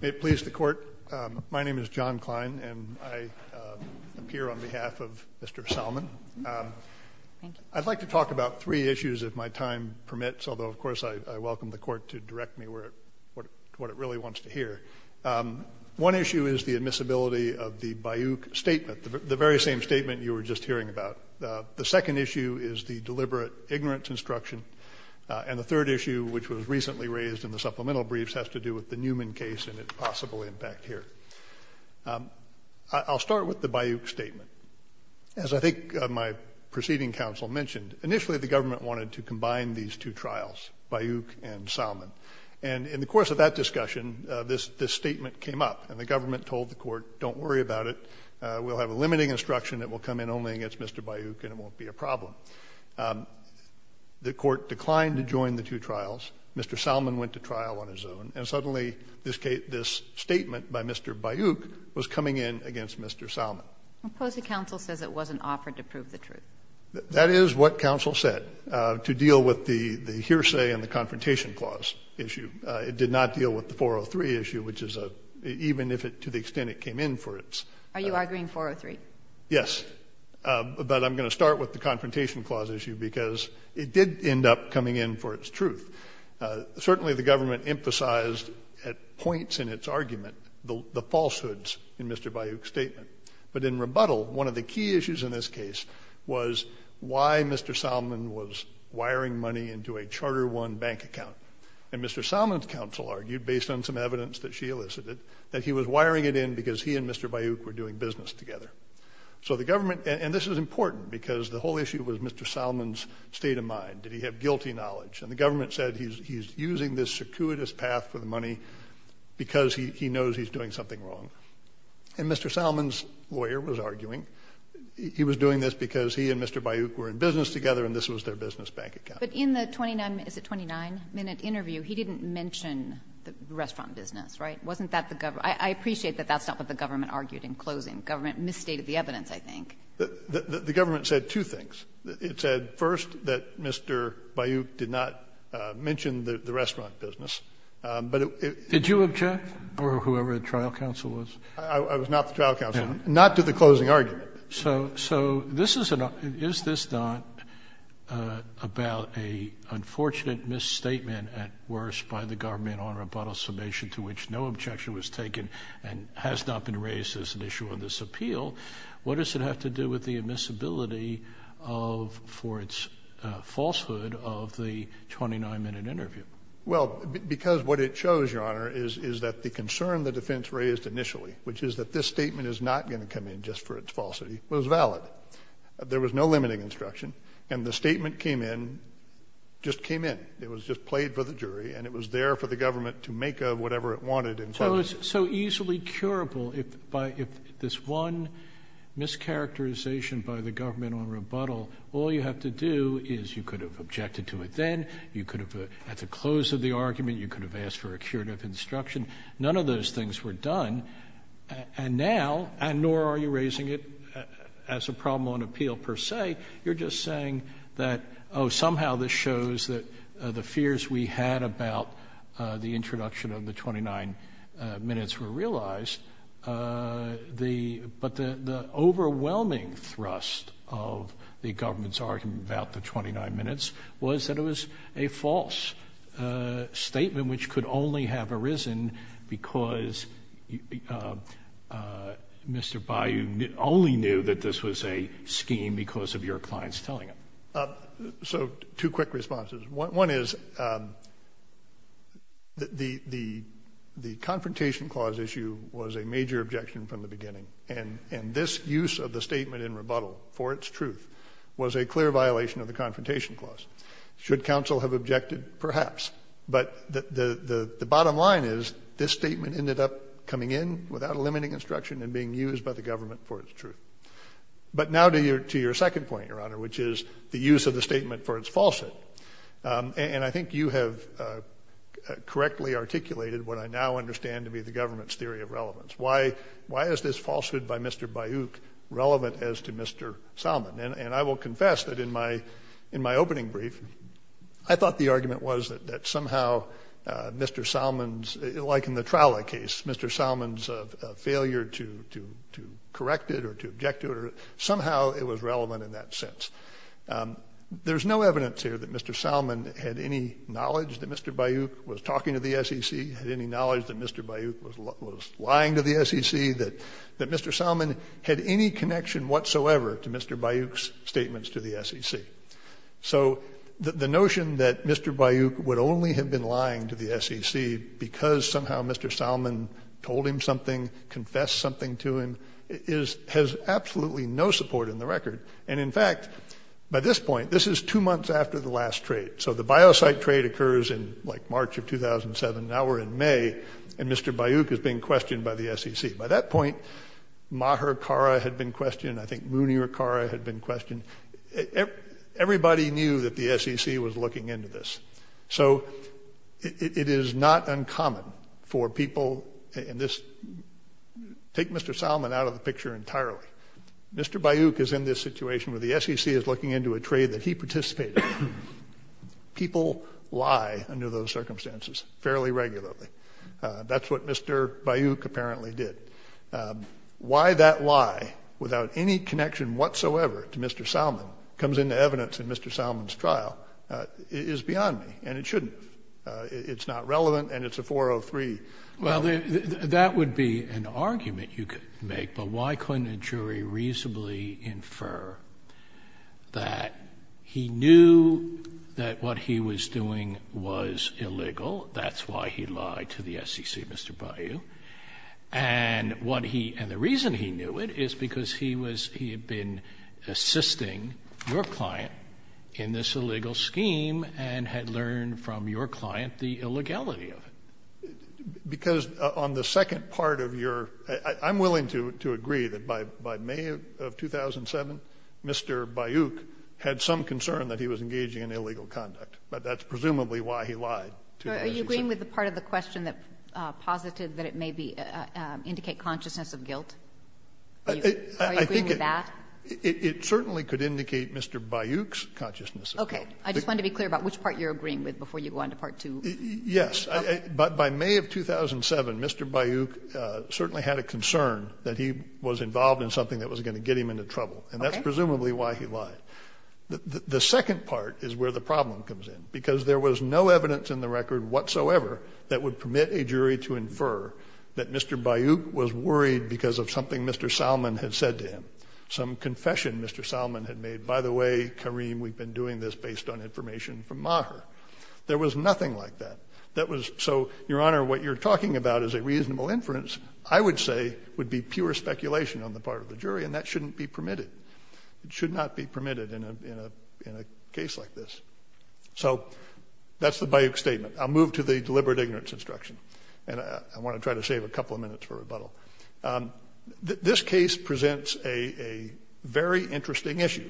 May it please the Court, my name is John Klein and I am here on behalf of Mr. Salman. I'd like to talk about three issues if my time permits, although of course I welcome the Court to direct me to what it really wants to hear. One issue is the admissibility of the Bayou statement, the very same statement you were just hearing about. The second issue is the deliberate ignorance instruction. And the third issue, which was recently raised in the supplemental briefs, has to do with the Newman case and its possible impact here. I'll start with the Bayou statement. As I think my preceding counsel mentioned, initially the government wanted to combine these two trials, Bayou and Salman. And in the course of that discussion, this statement came up and the government told the Court, don't worry about it. We'll have a limiting instruction that will come in only against Mr. Bayou and it won't be a problem. The Court declined to join the two trials. Mr. Salman went to trial on his own. And suddenly this statement by Mr. Bayou was coming in against Mr. Salman. Suppose the counsel says it wasn't offered to prove the truth. That is what counsel said to deal with the hearsay and the confrontation clause issue. It did not deal with the 403 issue, which is a, even if it, to the extent it came in for its. Are you arguing 403? Yes. But I'm going to start with the confrontation clause issue because it did end up coming in for its truth. Certainly the government emphasized at points in its argument the falsehoods in Mr. Bayou's statement. But in rebuttal, one of the key issues in this case was why Mr. Salman was wiring money into a Charter I bank account. And Mr. Salman's counsel argued, based on some evidence that she elicited, that he was wiring it in because he and Mr. Bayou were doing business together. So the government, and this is important because the whole issue was Mr. Salman's state of mind. Did he have guilty knowledge? And the government said he's using this circuitous path for the money because he knows he's doing something wrong. And Mr. Salman's lawyer was arguing he was doing this because he and Mr. Bayou were in business together and this was their business bank account. But in the 29-minute interview, he didn't mention the restaurant business, right? Wasn't that the government? I appreciate that that's not what the government argued in closing. The government misstated the evidence, I think. The government said two things. It said, first, that Mr. Bayou did not mention the restaurant business. But it was. Did you object? Or whoever the trial counsel was? I was not the trial counsel. Not to the closing argument. So is this not about an unfortunate misstatement at worst by the government, Your Honor, upon a summation to which no objection was taken and has not been raised as an issue in this appeal? What does it have to do with the admissibility for its falsehood of the 29-minute interview? Well, because what it shows, Your Honor, is that the concern the defense raised initially, which is that this statement is not going to come in just for its falsity, was valid. There was no limiting instruction, and the statement came in, just came in. It was just played for the jury, and it was there for the government to make of whatever it wanted in closing. So easily curable, if this one mischaracterization by the government on rebuttal, all you have to do is you could have objected to it then, you could have, at the close of the argument, you could have asked for a curative instruction. None of those things were done. And now, and nor are you raising it as a problem on appeal per se, you're just saying that, oh, somehow this shows that the fears we had about the introduction of the 29 minutes were realized. But the overwhelming thrust of the government's argument about the 29 minutes was that it was a false statement which could only have arisen because Mr. Bayou only knew that this was a scheme because of your clients telling him. So two quick responses. One is the Confrontation Clause issue was a major objection from the beginning, and this use of the statement in rebuttal for its truth was a clear violation of the Confrontation Clause. Should counsel have objected? Perhaps. But the bottom line is this statement ended up coming in without a limiting instruction and being used by the government for its truth. But now to your second point, Your Honor, which is the use of the statement for its falsehood. And I think you have correctly articulated what I now understand to be the government's theory of relevance. Why is this falsehood by Mr. Bayou relevant as to Mr. Salmon? And I will confess that in my opening brief, I thought the argument was that somehow Mr. Salmon's, like in the Traula case, Mr. Salmon's failure to correct it or to object to it, somehow it was relevant in that sense. There's no evidence here that Mr. Salmon had any knowledge that Mr. Bayou was talking to the SEC, had any knowledge that Mr. Bayou was lying to the SEC, that Mr. Salmon had any connection whatsoever to Mr. Bayou's statements to the SEC. So the notion that Mr. Bayou would only have been lying to the SEC because somehow Mr. Salmon told him something, confessed something to him, has absolutely no support in the record. And in fact, by this point, this is two months after the last trade. So the biocyte trade occurs in like March of 2007. Now we're in May, and Mr. Bayou is being questioned by the SEC. By that point, Maher Khara had been questioned. I think Munir Khara had been questioned. Everybody knew that the SEC was looking into this. So it is not uncommon for people in this – take Mr. Salmon out of the picture entirely. Mr. Bayou is in this situation where the SEC is looking into a trade that he participated in. People lie under those circumstances fairly regularly. That's what Mr. Bayou apparently did. Why that lie, without any connection whatsoever to Mr. Salmon, comes into evidence in Mr. Salmon's trial is beyond me. And it shouldn't. It's not relevant, and it's a 403. Well, that would be an argument you could make. But why couldn't a jury reasonably infer that he knew that what he was doing was illegal? That's why he lied to the SEC, Mr. Bayou. And what he – and the reason he knew it is because he was – he had been assisting your client in this illegal scheme and had learned from your client the illegality of it. Because on the second part of your – I'm willing to agree that by May of 2007, Mr. Bayou had some concern that he was engaging in illegal conduct, but that's presumably why he lied to the SEC. Are you agreeing with the part of the question that posited that it may be – indicate consciousness of guilt? Are you agreeing with that? It certainly could indicate Mr. Bayou's consciousness of guilt. Okay. I just wanted to be clear about which part you're agreeing with before you go on to Part 2. Yes. By May of 2007, Mr. Bayou certainly had a concern that he was involved in something that was going to get him into trouble. Okay. And that's presumably why he lied. The second part is where the problem comes in, because there was no evidence in the record whatsoever that would permit a jury to infer that Mr. Bayou was worried because of something Mr. Salmon had said to him, some confession Mr. Salmon had made. By the way, Kareem, we've been doing this based on information from Maher. There was nothing like that. So, Your Honor, what you're talking about is a reasonable inference, I would say, would be pure speculation on the part of the jury, and that shouldn't be permitted. It should not be permitted in a case like this. So that's the Bayou statement. I'll move to the deliberate ignorance instruction. And I want to try to save a couple of minutes for rebuttal. This case presents a very interesting issue.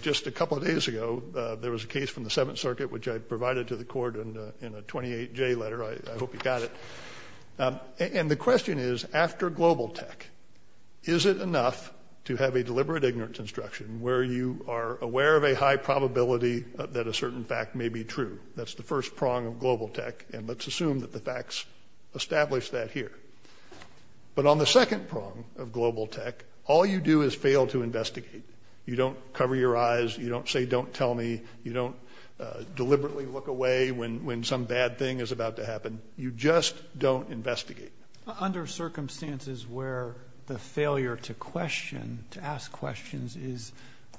Just a couple of days ago, there was a case from the Seventh Circuit, which I provided to the court in a 28J letter. I hope you got it. And the question is, after global tech, is it enough to have a deliberate ignorance instruction where you are aware of a high probability that a certain fact may be true? That's the first prong of global tech, and let's assume that the facts establish that here. But on the second prong of global tech, all you do is fail to investigate. You don't cover your eyes. You don't say, don't tell me. You don't deliberately look away when some bad thing is about to happen. You just don't investigate. Under circumstances where the failure to question, to ask questions, is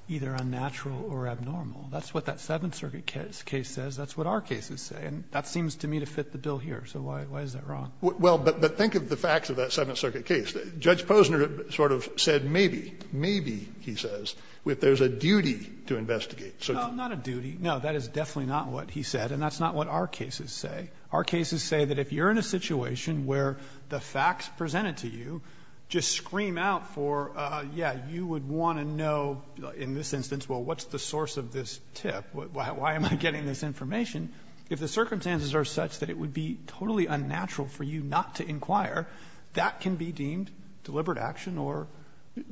either unnatural or abnormal. That's what that Seventh Circuit case says. That's what our cases say. And that seems to me to fit the bill here. So why is that wrong? Well, but think of the facts of that Seventh Circuit case. Judge Posner sort of said maybe, maybe, he says, that there's a duty to investigate. No, not a duty. No, that is definitely not what he said, and that's not what our cases say. Our cases say that if you're in a situation where the facts presented to you just scream out for, yeah, you would want to know in this instance, well, what's the source of this tip? Why am I getting this information? If the circumstances are such that it would be totally unnatural for you not to inquire, that can be deemed deliberate action or,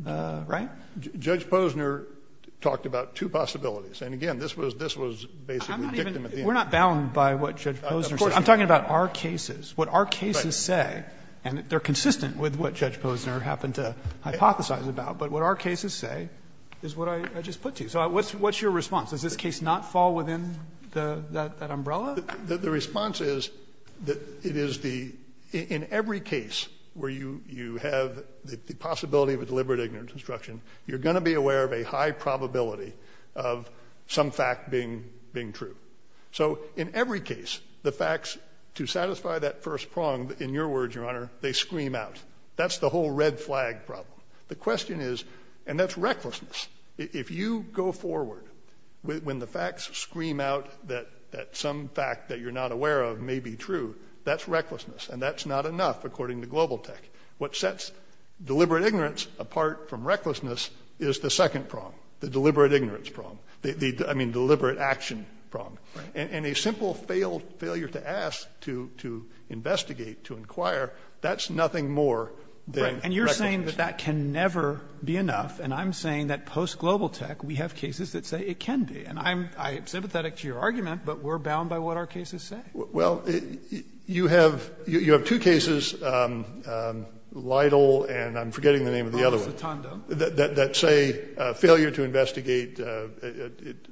right? Judge Posner talked about two possibilities. And again, this was, this was basically victim at the end. We're not bound by what Judge Posner said. I'm talking about our cases. What our cases say, and they're consistent with what Judge Posner happened to hypothesize about, but what our cases say is what I just put to you. So what's your response? Does this case not fall within that umbrella? The response is that it is the, in every case where you have the possibility of a deliberate ignorance instruction, you're going to be aware of a high probability of some fact being true. So in every case, the facts to satisfy that first prong, in your words, Your Honor, they scream out. That's the whole red flag problem. The question is, and that's recklessness. If you go forward, when the facts scream out that some fact that you're not aware of may be true, that's recklessness. And that's not enough, according to Global Tech. What sets deliberate ignorance apart from recklessness is the second prong, the deliberate ignorance prong. I mean, deliberate action prong. And a simple failure to ask, to investigate, to inquire, that's nothing more than recklessness. And you're saying that that can never be enough. And I'm saying that post-Global Tech, we have cases that say it can be. And I'm sympathetic to your argument, but we're bound by what our cases say. Well, you have two cases, Lytle and I'm forgetting the name of the other one. That say failure to investigate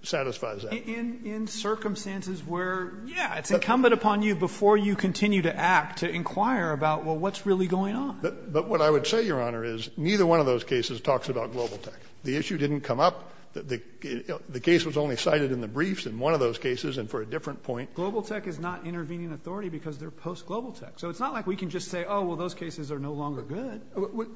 satisfies that. In circumstances where, yeah, it's incumbent upon you before you continue to act to inquire about, well, what's really going on? But what I would say, Your Honor, is neither one of those cases talks about Global Tech. The issue didn't come up. The case was only cited in the briefs in one of those cases and for a different point. Global Tech is not intervening authority because they're post-Global Tech. So it's not like we can just say, oh, well, those cases are no longer good.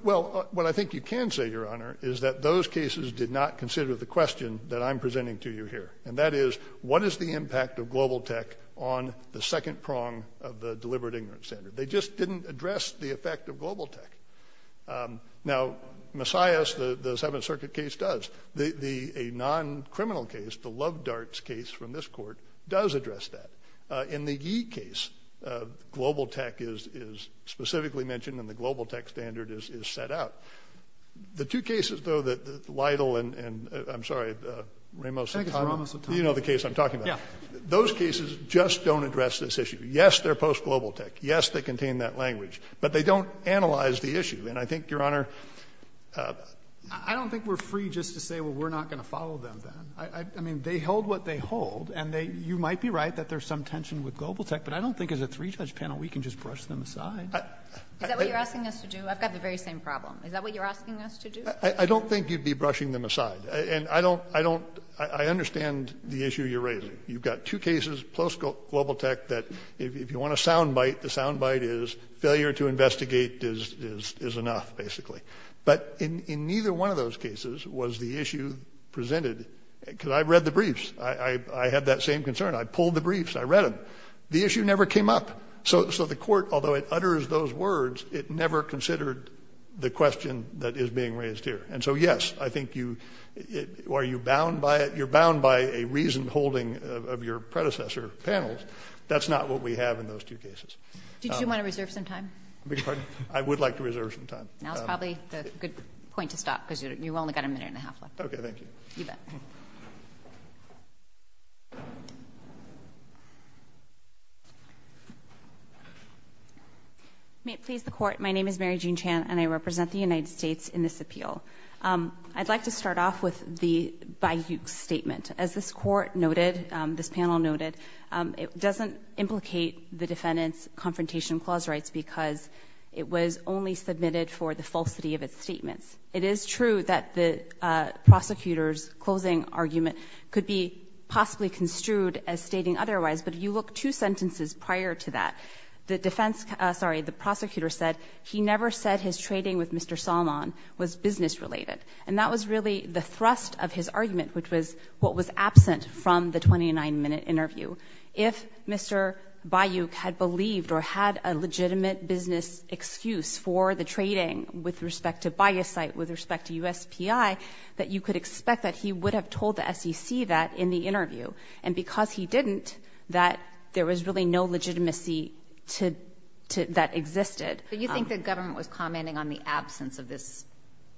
Well, what I think you can say, Your Honor, is that those cases did not consider the question that I'm presenting to you here. And that is, what is the impact of Global Tech on the second prong of the deliberate ignorance standard? They just didn't address the effect of Global Tech. Now, Messiahs, the Seventh Circuit case, does. A non-criminal case, the Love Darts case from this court, does address that. In the Yi case, Global Tech is specifically mentioned and the Global Tech standard is set out. The two cases, though, that Lytle and, I'm sorry, Ramos-Sotoma. You know the case I'm talking about. Those cases just don't address this issue. Yes, they're post-Global Tech. Yes, they contain that language. But they don't analyze the issue. And I think, Your Honor, I don't think we're free just to say, well, we're not going to follow them then. I mean, they hold what they hold. And you might be right that there's some tension with Global Tech. But I don't think as a three-judge panel we can just brush them aside. Is that what you're asking us to do? I've got the very same problem. Is that what you're asking us to do? And I don't, I understand the issue you're raising. You've got two cases, post-Global Tech, that if you want a sound bite, the sound bite is failure to investigate is enough, basically. But in neither one of those cases was the issue presented. Because I read the briefs. I had that same concern. I pulled the briefs. I read them. The issue never came up. So the court, although it utters those words, it never considered the question that is being raised here. And so, yes, I think you, are you bound by it? Of your predecessor panels, that's not what we have in those two cases. Did you want to reserve some time? I would like to reserve some time. That's probably a good point to stop, because you've only got a minute and a half left. Okay, thank you. You bet. May it please the Court, my name is Mary Jean Chan, and I represent the United States in this appeal. I'd like to start off with the Bayouk statement. As this Court noted, this panel noted, it doesn't implicate the defendant's confrontation clause rights because it was only submitted for the falsity of its statements. It is true that the prosecutor's closing argument could be possibly construed as stating otherwise, but if you look two sentences prior to that, the defense, sorry, the prosecutor said, he never said his trading with Mr. Salmon was business related. And that was really the thrust of his argument, which was what was absent from the 29-minute interview. If Mr. Bayouk had believed or had a legitimate business excuse for the trading with respect to buy a site, with respect to USPI, that you could expect that he would have told the SEC that in the interview. And because he didn't, that there was really no legitimacy that existed. But you think the government was commenting on the absence of this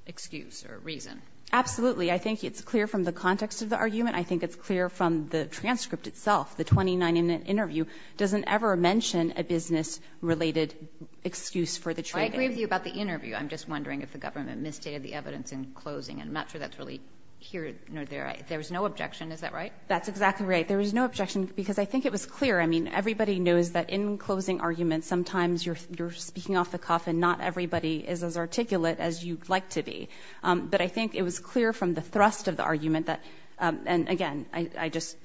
excuse or reason? Absolutely. I think it's clear from the context of the argument. I think it's clear from the transcript itself. The 29-minute interview doesn't ever mention a business-related excuse for the trading. I agree with you about the interview. I'm just wondering if the government misstated the evidence in closing, and I'm not sure that's really here nor there. There was no objection. Is that right? That's exactly right. There was no objection because I think it was clear. I mean, everybody knows that in closing arguments, sometimes you're speaking off the cuff and not everybody is as articulate as you'd like to be. But I think it was clear from the thrust of the argument that, and again, I just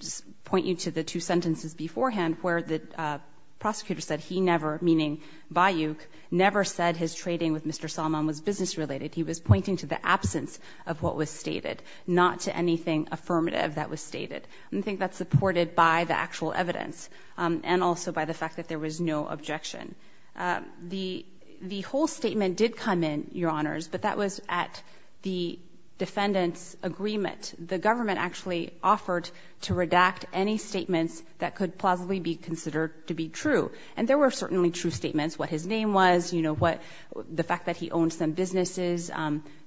point you to the two sentences beforehand where the prosecutor said he never, meaning Bayouk, never said his trading with Mr. Salman was business-related. He was pointing to the absence of what was stated, not to anything affirmative that was stated. And I think that's supported by the actual evidence and also by the fact that there was no objection. The whole statement did come in, Your Honors, but that was at the defendant's agreement. The government actually offered to redact any statements that could plausibly be considered to be true. And there were certainly true statements, what his name was, the fact that he owned some businesses.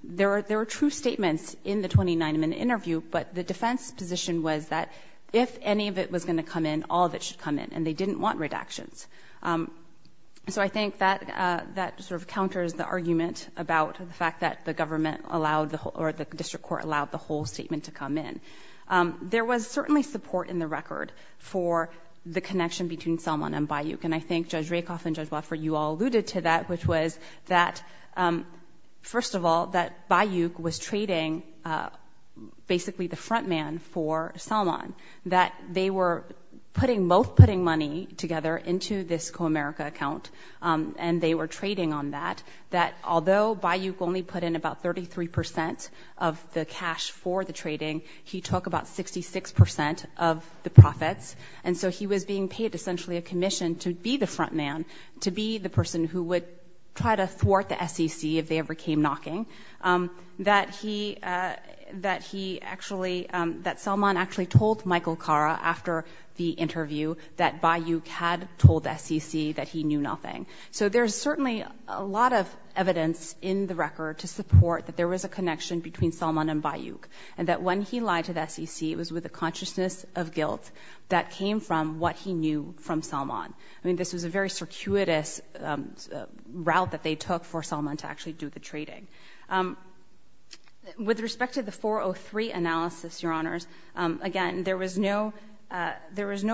There were true statements in the 29-minute interview, but the defense position was that if any of it was going to come in, all of it should come in, and they didn't want redactions. So I think that sort of counters the argument about the fact that the government allowed the whole, or the district court allowed the whole statement to come in. There was certainly support in the record for the connection between Salman and Bayouk, and I think Judge Rakoff and Judge Wofford, you all alluded to that, which was that, first of all, that Bayouk was trading basically the front man for Salman, that they were both putting money together into this CoAmerica account, and they were trading on that, that although Bayouk only put in about 33% of the cash for the trading, he took about 66% of the profits, and so he was being paid essentially a commission to be the front man, to be the person who would try to thwart the SEC if they ever came knocking, that he actually, that Salman actually told Michael Kara after the interview that Bayouk had told the SEC that he knew nothing. So there's certainly a lot of evidence in the record to support that there was a connection between Salman and Bayouk, and that when he lied to the SEC, it was with a consciousness of guilt that came from what he knew from Salman. I mean, this was a very circuitous route that they took for Salman to actually do the trading. With respect to the 403 analysis, Your Honors, again, there was no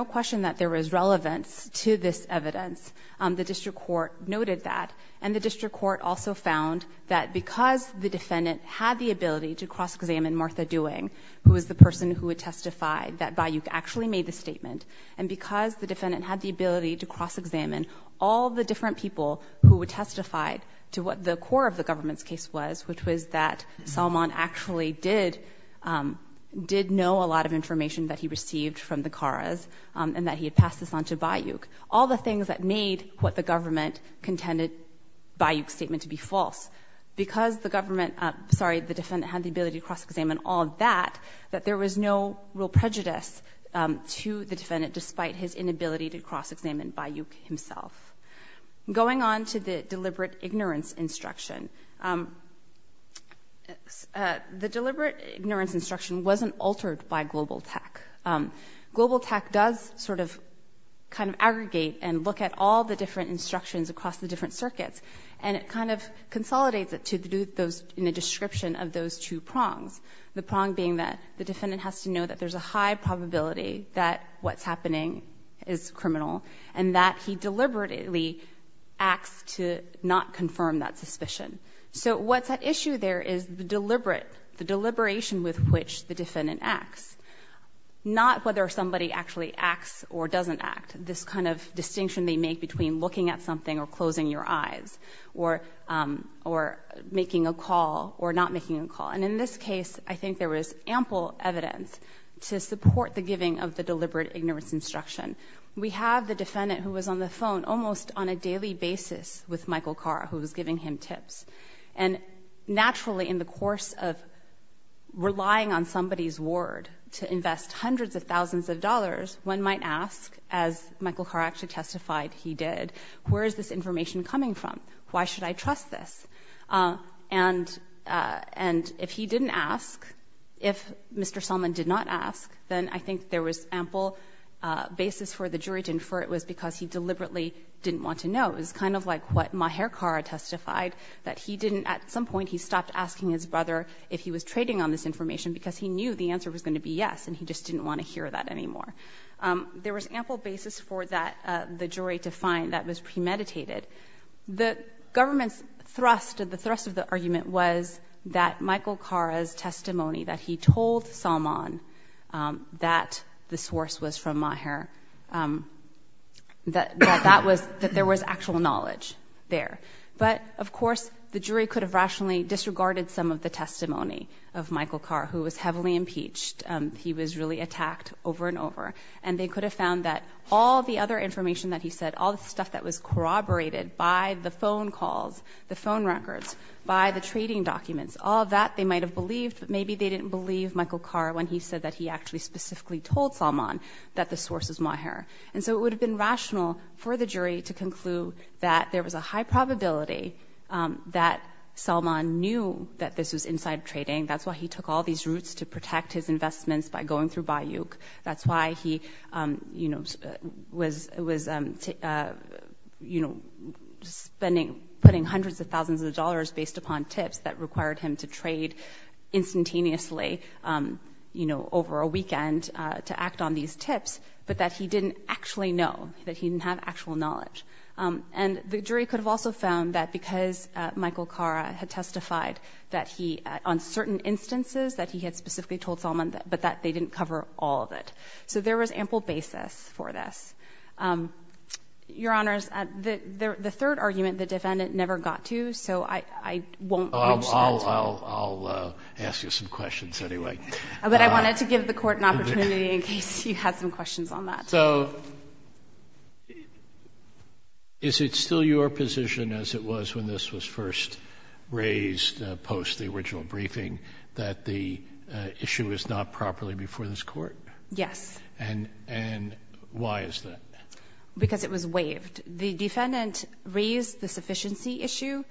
question that there was relevance to this evidence. The district court noted that, and the district court also found that because the defendant had the ability to cross-examine Martha Dewing, who was the person who had testified that Bayouk actually made the statement, and because the defendant had the ability to cross-examine all the different people who had testified to what the core of the government's case was, which was that Salman actually did know a lot of information that he received from the Karas, and that he had passed this on to Bayouk, all the things that made what the government contended Bayouk's statement to be false. Because the government, sorry, the defendant had the ability to cross-examine all of that, that there was no real prejudice to the defendant despite his inability to cross-examine Bayouk himself. Going on to the deliberate ignorance instruction, the deliberate ignorance instruction wasn't altered by GlobalTAC. GlobalTAC does sort of kind of aggregate and look at all the different instructions across the different circuits, and it kind of consolidates it in a description of those two prongs, the prong being that the defendant has to know that there's a high probability that what's happening is criminal and that he deliberately acts to not confirm that suspicion. So what's at issue there is the deliberate, the deliberation with which the defendant acts, not whether somebody actually acts or doesn't act, this kind of distinction they make between looking at something or closing your eyes or making a call or not making a call. And in this case, I think there was ample evidence to support the giving of the deliberate ignorance instruction. We have the defendant who was on the phone almost on a daily basis with Michael Carr, who was giving him tips. And naturally, in the course of relying on somebody's word to invest hundreds of thousands of dollars, one might ask, as Michael Carr actually testified he did, where is this information coming from? Why should I trust this? And if he didn't ask, if Mr. Selman did not ask, then I think there was ample basis for the jury to infer it was because he deliberately didn't want to know. It was kind of like what Maher Carr testified, that at some point he stopped asking his brother if he was trading on this information because he knew the answer was going to be yes and he just didn't want to hear that anymore. There was ample basis for the jury to find that was premeditated. The government's thrust, the thrust of the argument was that Michael Carr's testimony, that he told Selman that the source was from Maher, that there was actual knowledge there. But, of course, the jury could have rationally disregarded some of the testimony of Michael Carr, who was heavily impeached. He was really attacked over and over. And they could have found that all the other information that he said, all the stuff that was corroborated by the phone calls, the phone records, by the trading documents, all of that they might have believed, but maybe they didn't believe Michael Carr when he said that he actually specifically told Selman that the source was Maher. And so it would have been rational for the jury to conclude that there was a high probability that Selman knew that this was inside trading. That's why he took all these routes to protect his investments by going through Bayouk. That's why he was putting hundreds of thousands of dollars based upon tips that required him to trade instantaneously over a weekend to act on these tips, but that he didn't actually know, that he didn't have actual knowledge. And the jury could have also found that because Michael Carr had testified on certain instances that he had specifically told Selman, but that they didn't cover all of it. So there was ample basis for this. Your Honors, the third argument, the defendant never got to, so I won't reach that. I'll ask you some questions anyway. But I wanted to give the Court an opportunity in case you had some questions on that. So is it still your position, as it was when this was first raised post the original briefing, that the issue is not properly before this Court? Yes. And why is that? Because it was waived. The defendant raised the sufficiency issue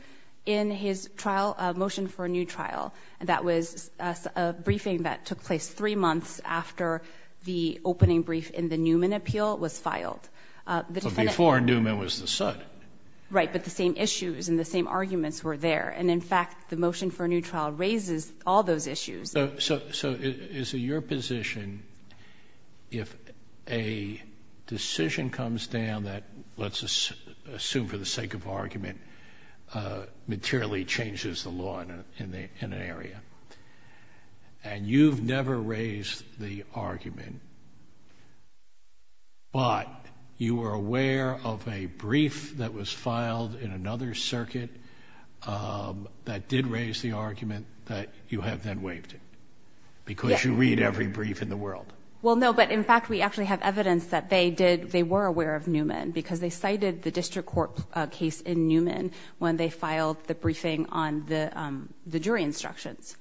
in his trial motion for a new trial, and that was a briefing that took place three months after the opening brief in the Newman appeal was filed. But before, Newman was the sud. Right, but the same issues and the same arguments were there. And in fact, the motion for a new trial raises all those issues. So is it your position, if a decision comes down that, let's assume for the sake of argument, materially changes the law in an area, and you've never raised the argument, but you were aware of a brief that was filed in another circuit that did raise the argument that you have then waived it? Yes. Because you read every brief in the world. Well, no, but in fact, we actually have evidence that they were aware of Newman because they cited the district court case in Newman when they filed the briefing on the jury instructions.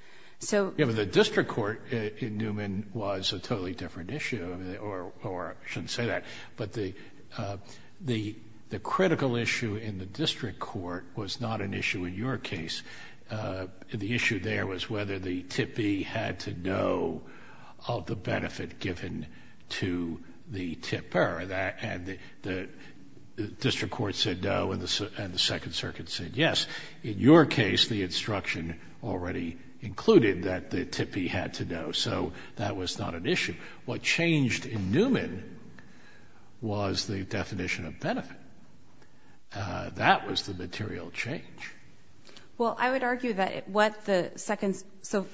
Yeah, but the district court in Newman was a totally different issue, or I shouldn't say that. But the critical issue in the district court was not an issue in your case. The issue there was whether the tippee had to know of the benefit given to the tipper. And the district court said no, and the Second Circuit said yes. In your case, the instruction already included what changed in Newman was the definition of benefit. That was the material change. Well, I would argue that what the Second... So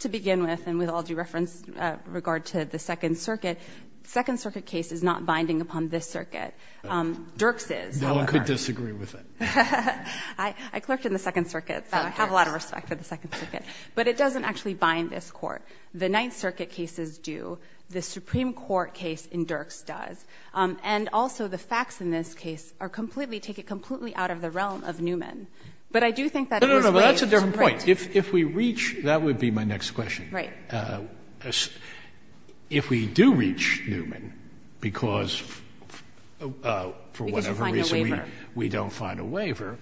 to begin with, and with all due reference, regard to the Second Circuit, the Second Circuit case is not binding upon this circuit. Dirks is, however. No one could disagree with that. I clerked in the Second Circuit, so I have a lot of respect for the Second Circuit. But it doesn't actually bind this court. The Ninth Circuit cases do. The Supreme Court case in Dirks does. And also, the facts in this case are completely... take it completely out of the realm of Newman. But I do think that it is... No, no, no, that's a different point. If we reach... that would be my next question. If we do reach Newman, because for whatever reason... Because you find a waiver. ...we don't find a waiver,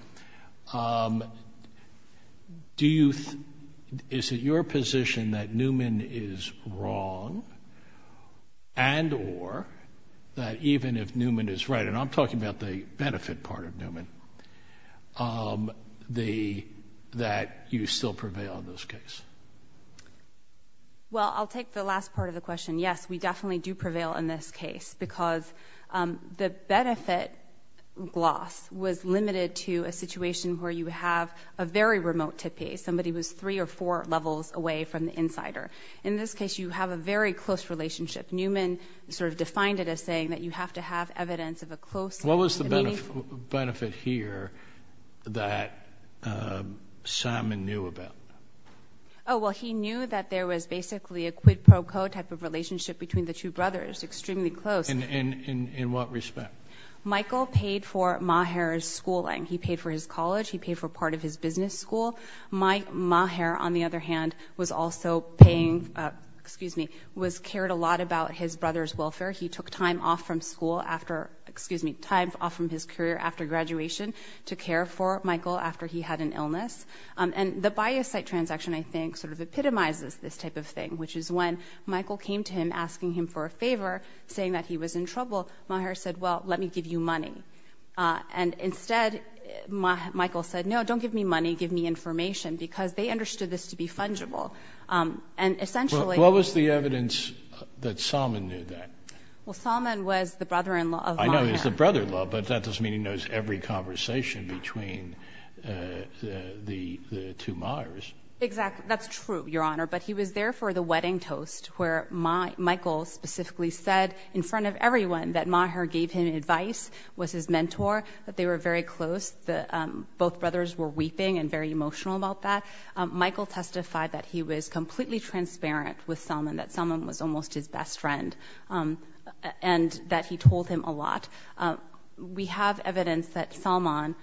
do you... Is it your position that Newman is wrong and or that even if Newman is right, and I'm talking about the benefit part of Newman, that you still prevail in this case? Well, I'll take the last part of the question. Yes, we definitely do prevail in this case because the benefit gloss was limited to a situation where you have a very remote tippee. Somebody was three or four levels away from the insider. In this case, you have a very close relationship. Newman sort of defined it as saying that you have to have evidence of a close... What was the benefit here that Simon knew about? Oh, well, he knew that there was basically a quid pro quo type of relationship between the two brothers, extremely close. In what respect? Michael paid for Maher's schooling. He paid for his college. He paid for part of his business school. Maher, on the other hand, was also paying... Excuse me, was cared a lot about his brother's welfare. He took time off from school after... Excuse me, time off from his career after graduation to care for Michael after he had an illness. And the biocyte transaction, I think, sort of epitomizes this type of thing, which is when Michael came to him asking him for a favor, saying that he was in trouble. Maher said, well, let me give you money. And instead, Michael said, no, don't give me money, give me information, because they understood this to be fungible. And essentially... What was the evidence that Simon knew that? Well, Simon was the brother-in-law of Maher. I know he was the brother-in-law, but that doesn't mean he knows every conversation between the two Mahers. Exactly, that's true, Your Honor, but he was there for the wedding toast where Michael specifically said in front of everyone that Maher gave him advice, was his mentor, that they were very close. Both brothers were weeping and very emotional about that. Michael testified that he was completely transparent with Simon, that Simon was almost his best friend, and that he told him a lot. We have evidence that Simon...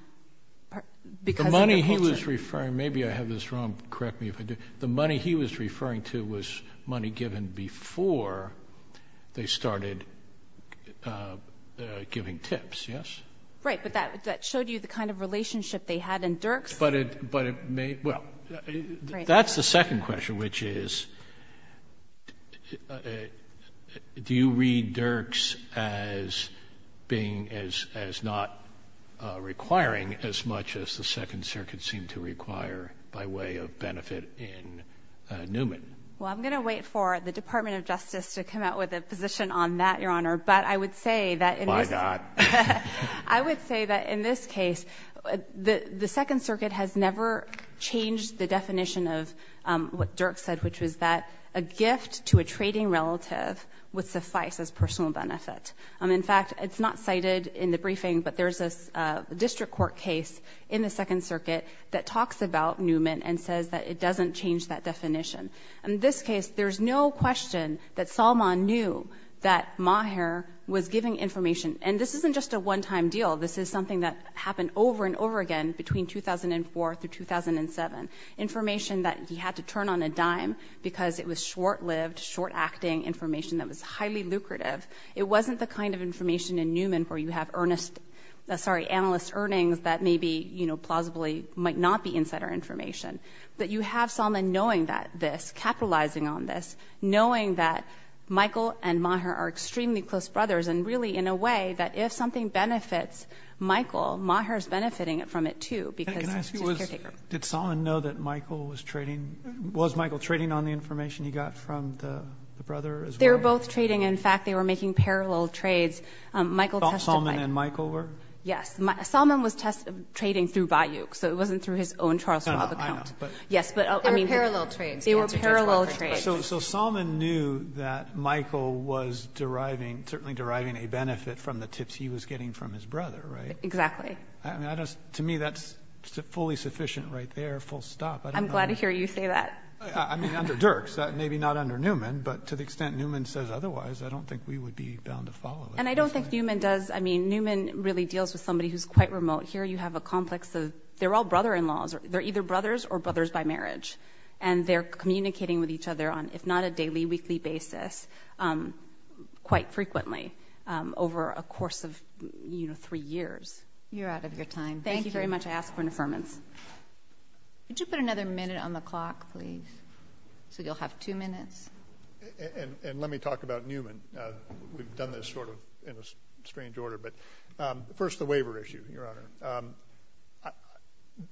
The money he was referring... Maybe I have this wrong. Correct me if I do. The money he was referring to was money given before they started giving tips, yes? Right, but that showed you the kind of relationship they had in Dirks. But it may... That's the second question, which is, do you read Dirks as not requiring as much as the Second Circuit seemed to require by way of benefit in Newman? Well, I'm going to wait for the Department of Justice to come out with a position on that, Your Honor, but I would say that... Why not? I would say that in this case, the Second Circuit has never changed the definition of what Dirks said, which was that a gift to a trading relative would suffice as personal benefit. In fact, it's not cited in the briefing, but there's a district court case in the Second Circuit that talks about Newman and says that it doesn't change that definition. In this case, there's no question that Salman knew that Maher was giving information. And this isn't just a one-time deal. This is something that happened over and over again between 2004 through 2007, information that he had to turn on a dime because it was short-lived, short-acting information that was highly lucrative. It wasn't the kind of information in Newman where you have earnest... Sorry, analyst earnings that maybe, you know, possibly might not be insider information. But you have Salman knowing this, capitalizing on this, knowing that Michael and Maher are extremely close brothers and really, in a way, that if something benefits Michael, Maher's benefiting from it too because she's a caretaker. Did Salman know that Michael was trading... Was Michael trading on the information he got from the brother as well? They were both trading. In fact, they were making parallel trades. Salman and Michael were? Yes. Salman was trading through Bayouk, so it wasn't through his own Charles Robb account. Yes, but... They were parallel trades. They were parallel trades. So Salman knew that Michael was deriving, certainly deriving a benefit from the tips he was getting from his brother, right? Exactly. To me, that's fully sufficient right there, full stop. I'm glad to hear you say that. I mean, under Dirks, maybe not under Newman, but to the extent Newman says otherwise, I don't think we would be bound to follow it. And I don't think Newman does... I mean, Newman really deals with somebody who's quite remote. Here you have a complex of... They're all brother-in-laws. They're either brothers or brothers by marriage, and they're communicating with each other on, if not a daily, weekly basis, quite frequently over a course of, you know, 3 years. You're out of your time. Thank you very much. I ask for an affirmance. Could you put another minute on the clock, please? So you'll have 2 minutes. And let me talk about Newman. We've done this sort of in a strange order. But first, the waiver issue, Your Honor.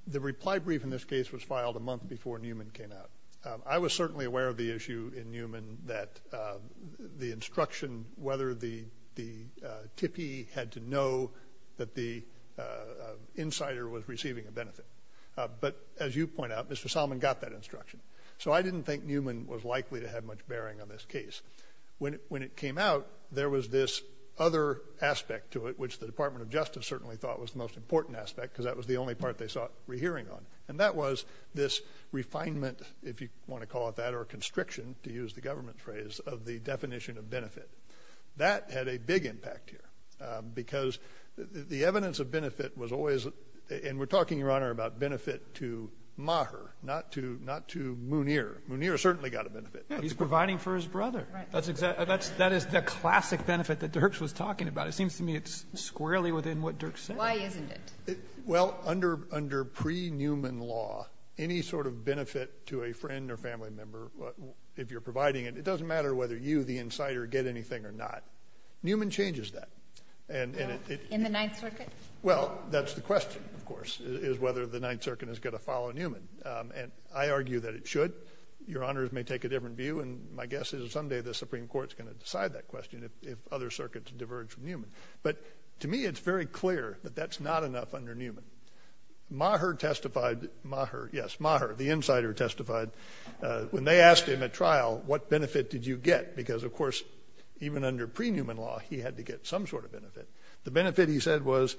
The reply brief in this case was filed a month before Newman came out. I was certainly aware of the issue in Newman that the instruction, whether the tippee had to know that the insider was receiving a benefit. But as you point out, Mr. Solomon got that instruction. So I didn't think Newman was likely to have much bearing on this case. When it came out, there was this other aspect to it, which the Department of Justice certainly thought was the most important aspect because that was the only part they saw it rehearing on. And that was this refinement, if you want to call it that, or constriction, to use the government phrase, of the definition of benefit. That had a big impact here because the evidence of benefit was always – and we're talking, Your Honor, about benefit to Maher, not to Munir. Munir certainly got a benefit. He's providing for his brother. That is the classic benefit that Dirks was talking about. It seems to me it's squarely within what Dirks said. Why isn't it? Well, under pre-Newman law, any sort of benefit to a friend or family member, if you're providing it, it doesn't matter whether you, the insider, get anything or not. Newman changes that. In the Ninth Circuit? Well, that's the question, of course, is whether the Ninth Circuit is going to follow Newman. And I argue that it should. Your Honors may take a different view. And my guess is someday the Supreme Court is going to decide that question, if other circuits diverge from Newman. But to me it's very clear that that's not enough under Newman. Maher testified – Maher, yes, Maher, the insider testified. When they asked him at trial, what benefit did you get? Because, of course, even under pre-Newman law, he had to get some sort of benefit. The benefit, he said, was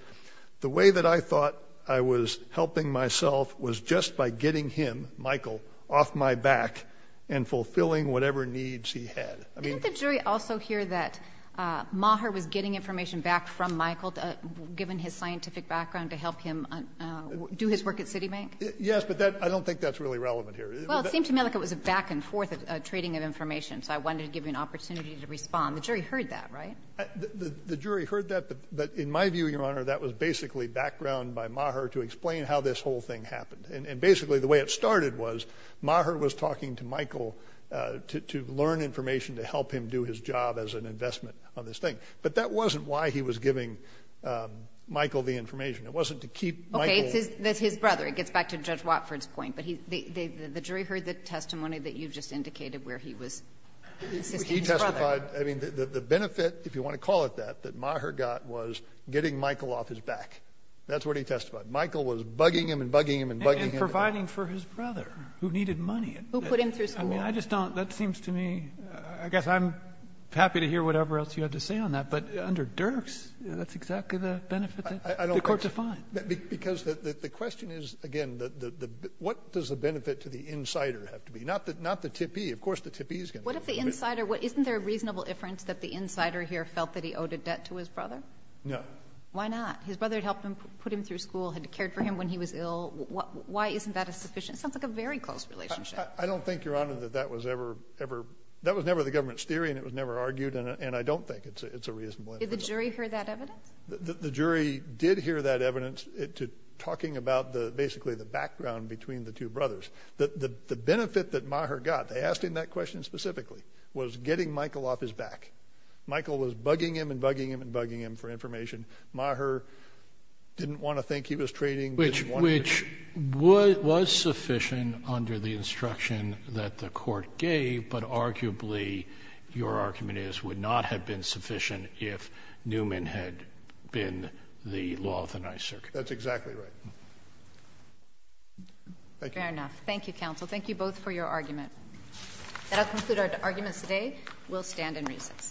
the way that I thought I was helping myself was just by getting him, Michael, off my back and fulfilling whatever needs he had. Didn't the jury also hear that Maher was getting information back from Michael, given his scientific background, to help him do his work at Citibank? Yes, but I don't think that's really relevant here. Well, it seemed to me like it was a back-and-forth trading of information, so I wanted to give you an opportunity to respond. The jury heard that, right? The jury heard that, but in my view, Your Honor, that was basically background by Maher to explain how this whole thing happened. And basically the way it started was Maher was talking to Michael to learn information to help him do his job as an investment on this thing. But that wasn't why he was giving Michael the information. It wasn't to keep Michael— Okay, it's his brother. It gets back to Judge Watford's point. But the jury heard the testimony that you just indicated where he was assisting his brother. He testified—I mean, the benefit, if you want to call it that, that Maher got was getting Michael off his back. That's what he testified. Michael was bugging him and bugging him and bugging him. And providing for his brother, who needed money. Who put him through so much. I mean, I just don't—that seems to me— I guess I'm happy to hear whatever else you have to say on that, but under Dirks, that's exactly the benefit that the court defined. Because the question is, again, what does the benefit to the insider have to be? Not the tippee. Of course the tippee is going to— What if the insider—isn't there a reasonable inference that the insider here felt that he owed a debt to his brother? No. Why not? His brother had helped him put him through school, had cared for him when he was ill. Why isn't that a sufficient—sounds like a very close relationship. I don't think, Your Honor, that that was ever— that was never the government's theory and it was never argued, and I don't think it's a reasonable— Did the jury hear that evidence? The jury did hear that evidence, talking about basically the background between the two brothers. The benefit that Maher got—they asked him that question specifically— was getting Michael off his back. Michael was bugging him and bugging him and bugging him for information. Maher didn't want to think he was trading— Which was sufficient under the instruction that the court gave, but arguably your argument is would not have been sufficient if Newman had been the law of the ninth circuit. That's exactly right. Thank you. Fair enough. Thank you, counsel. Thank you both for your argument. That will conclude our arguments today. We'll stand and recess.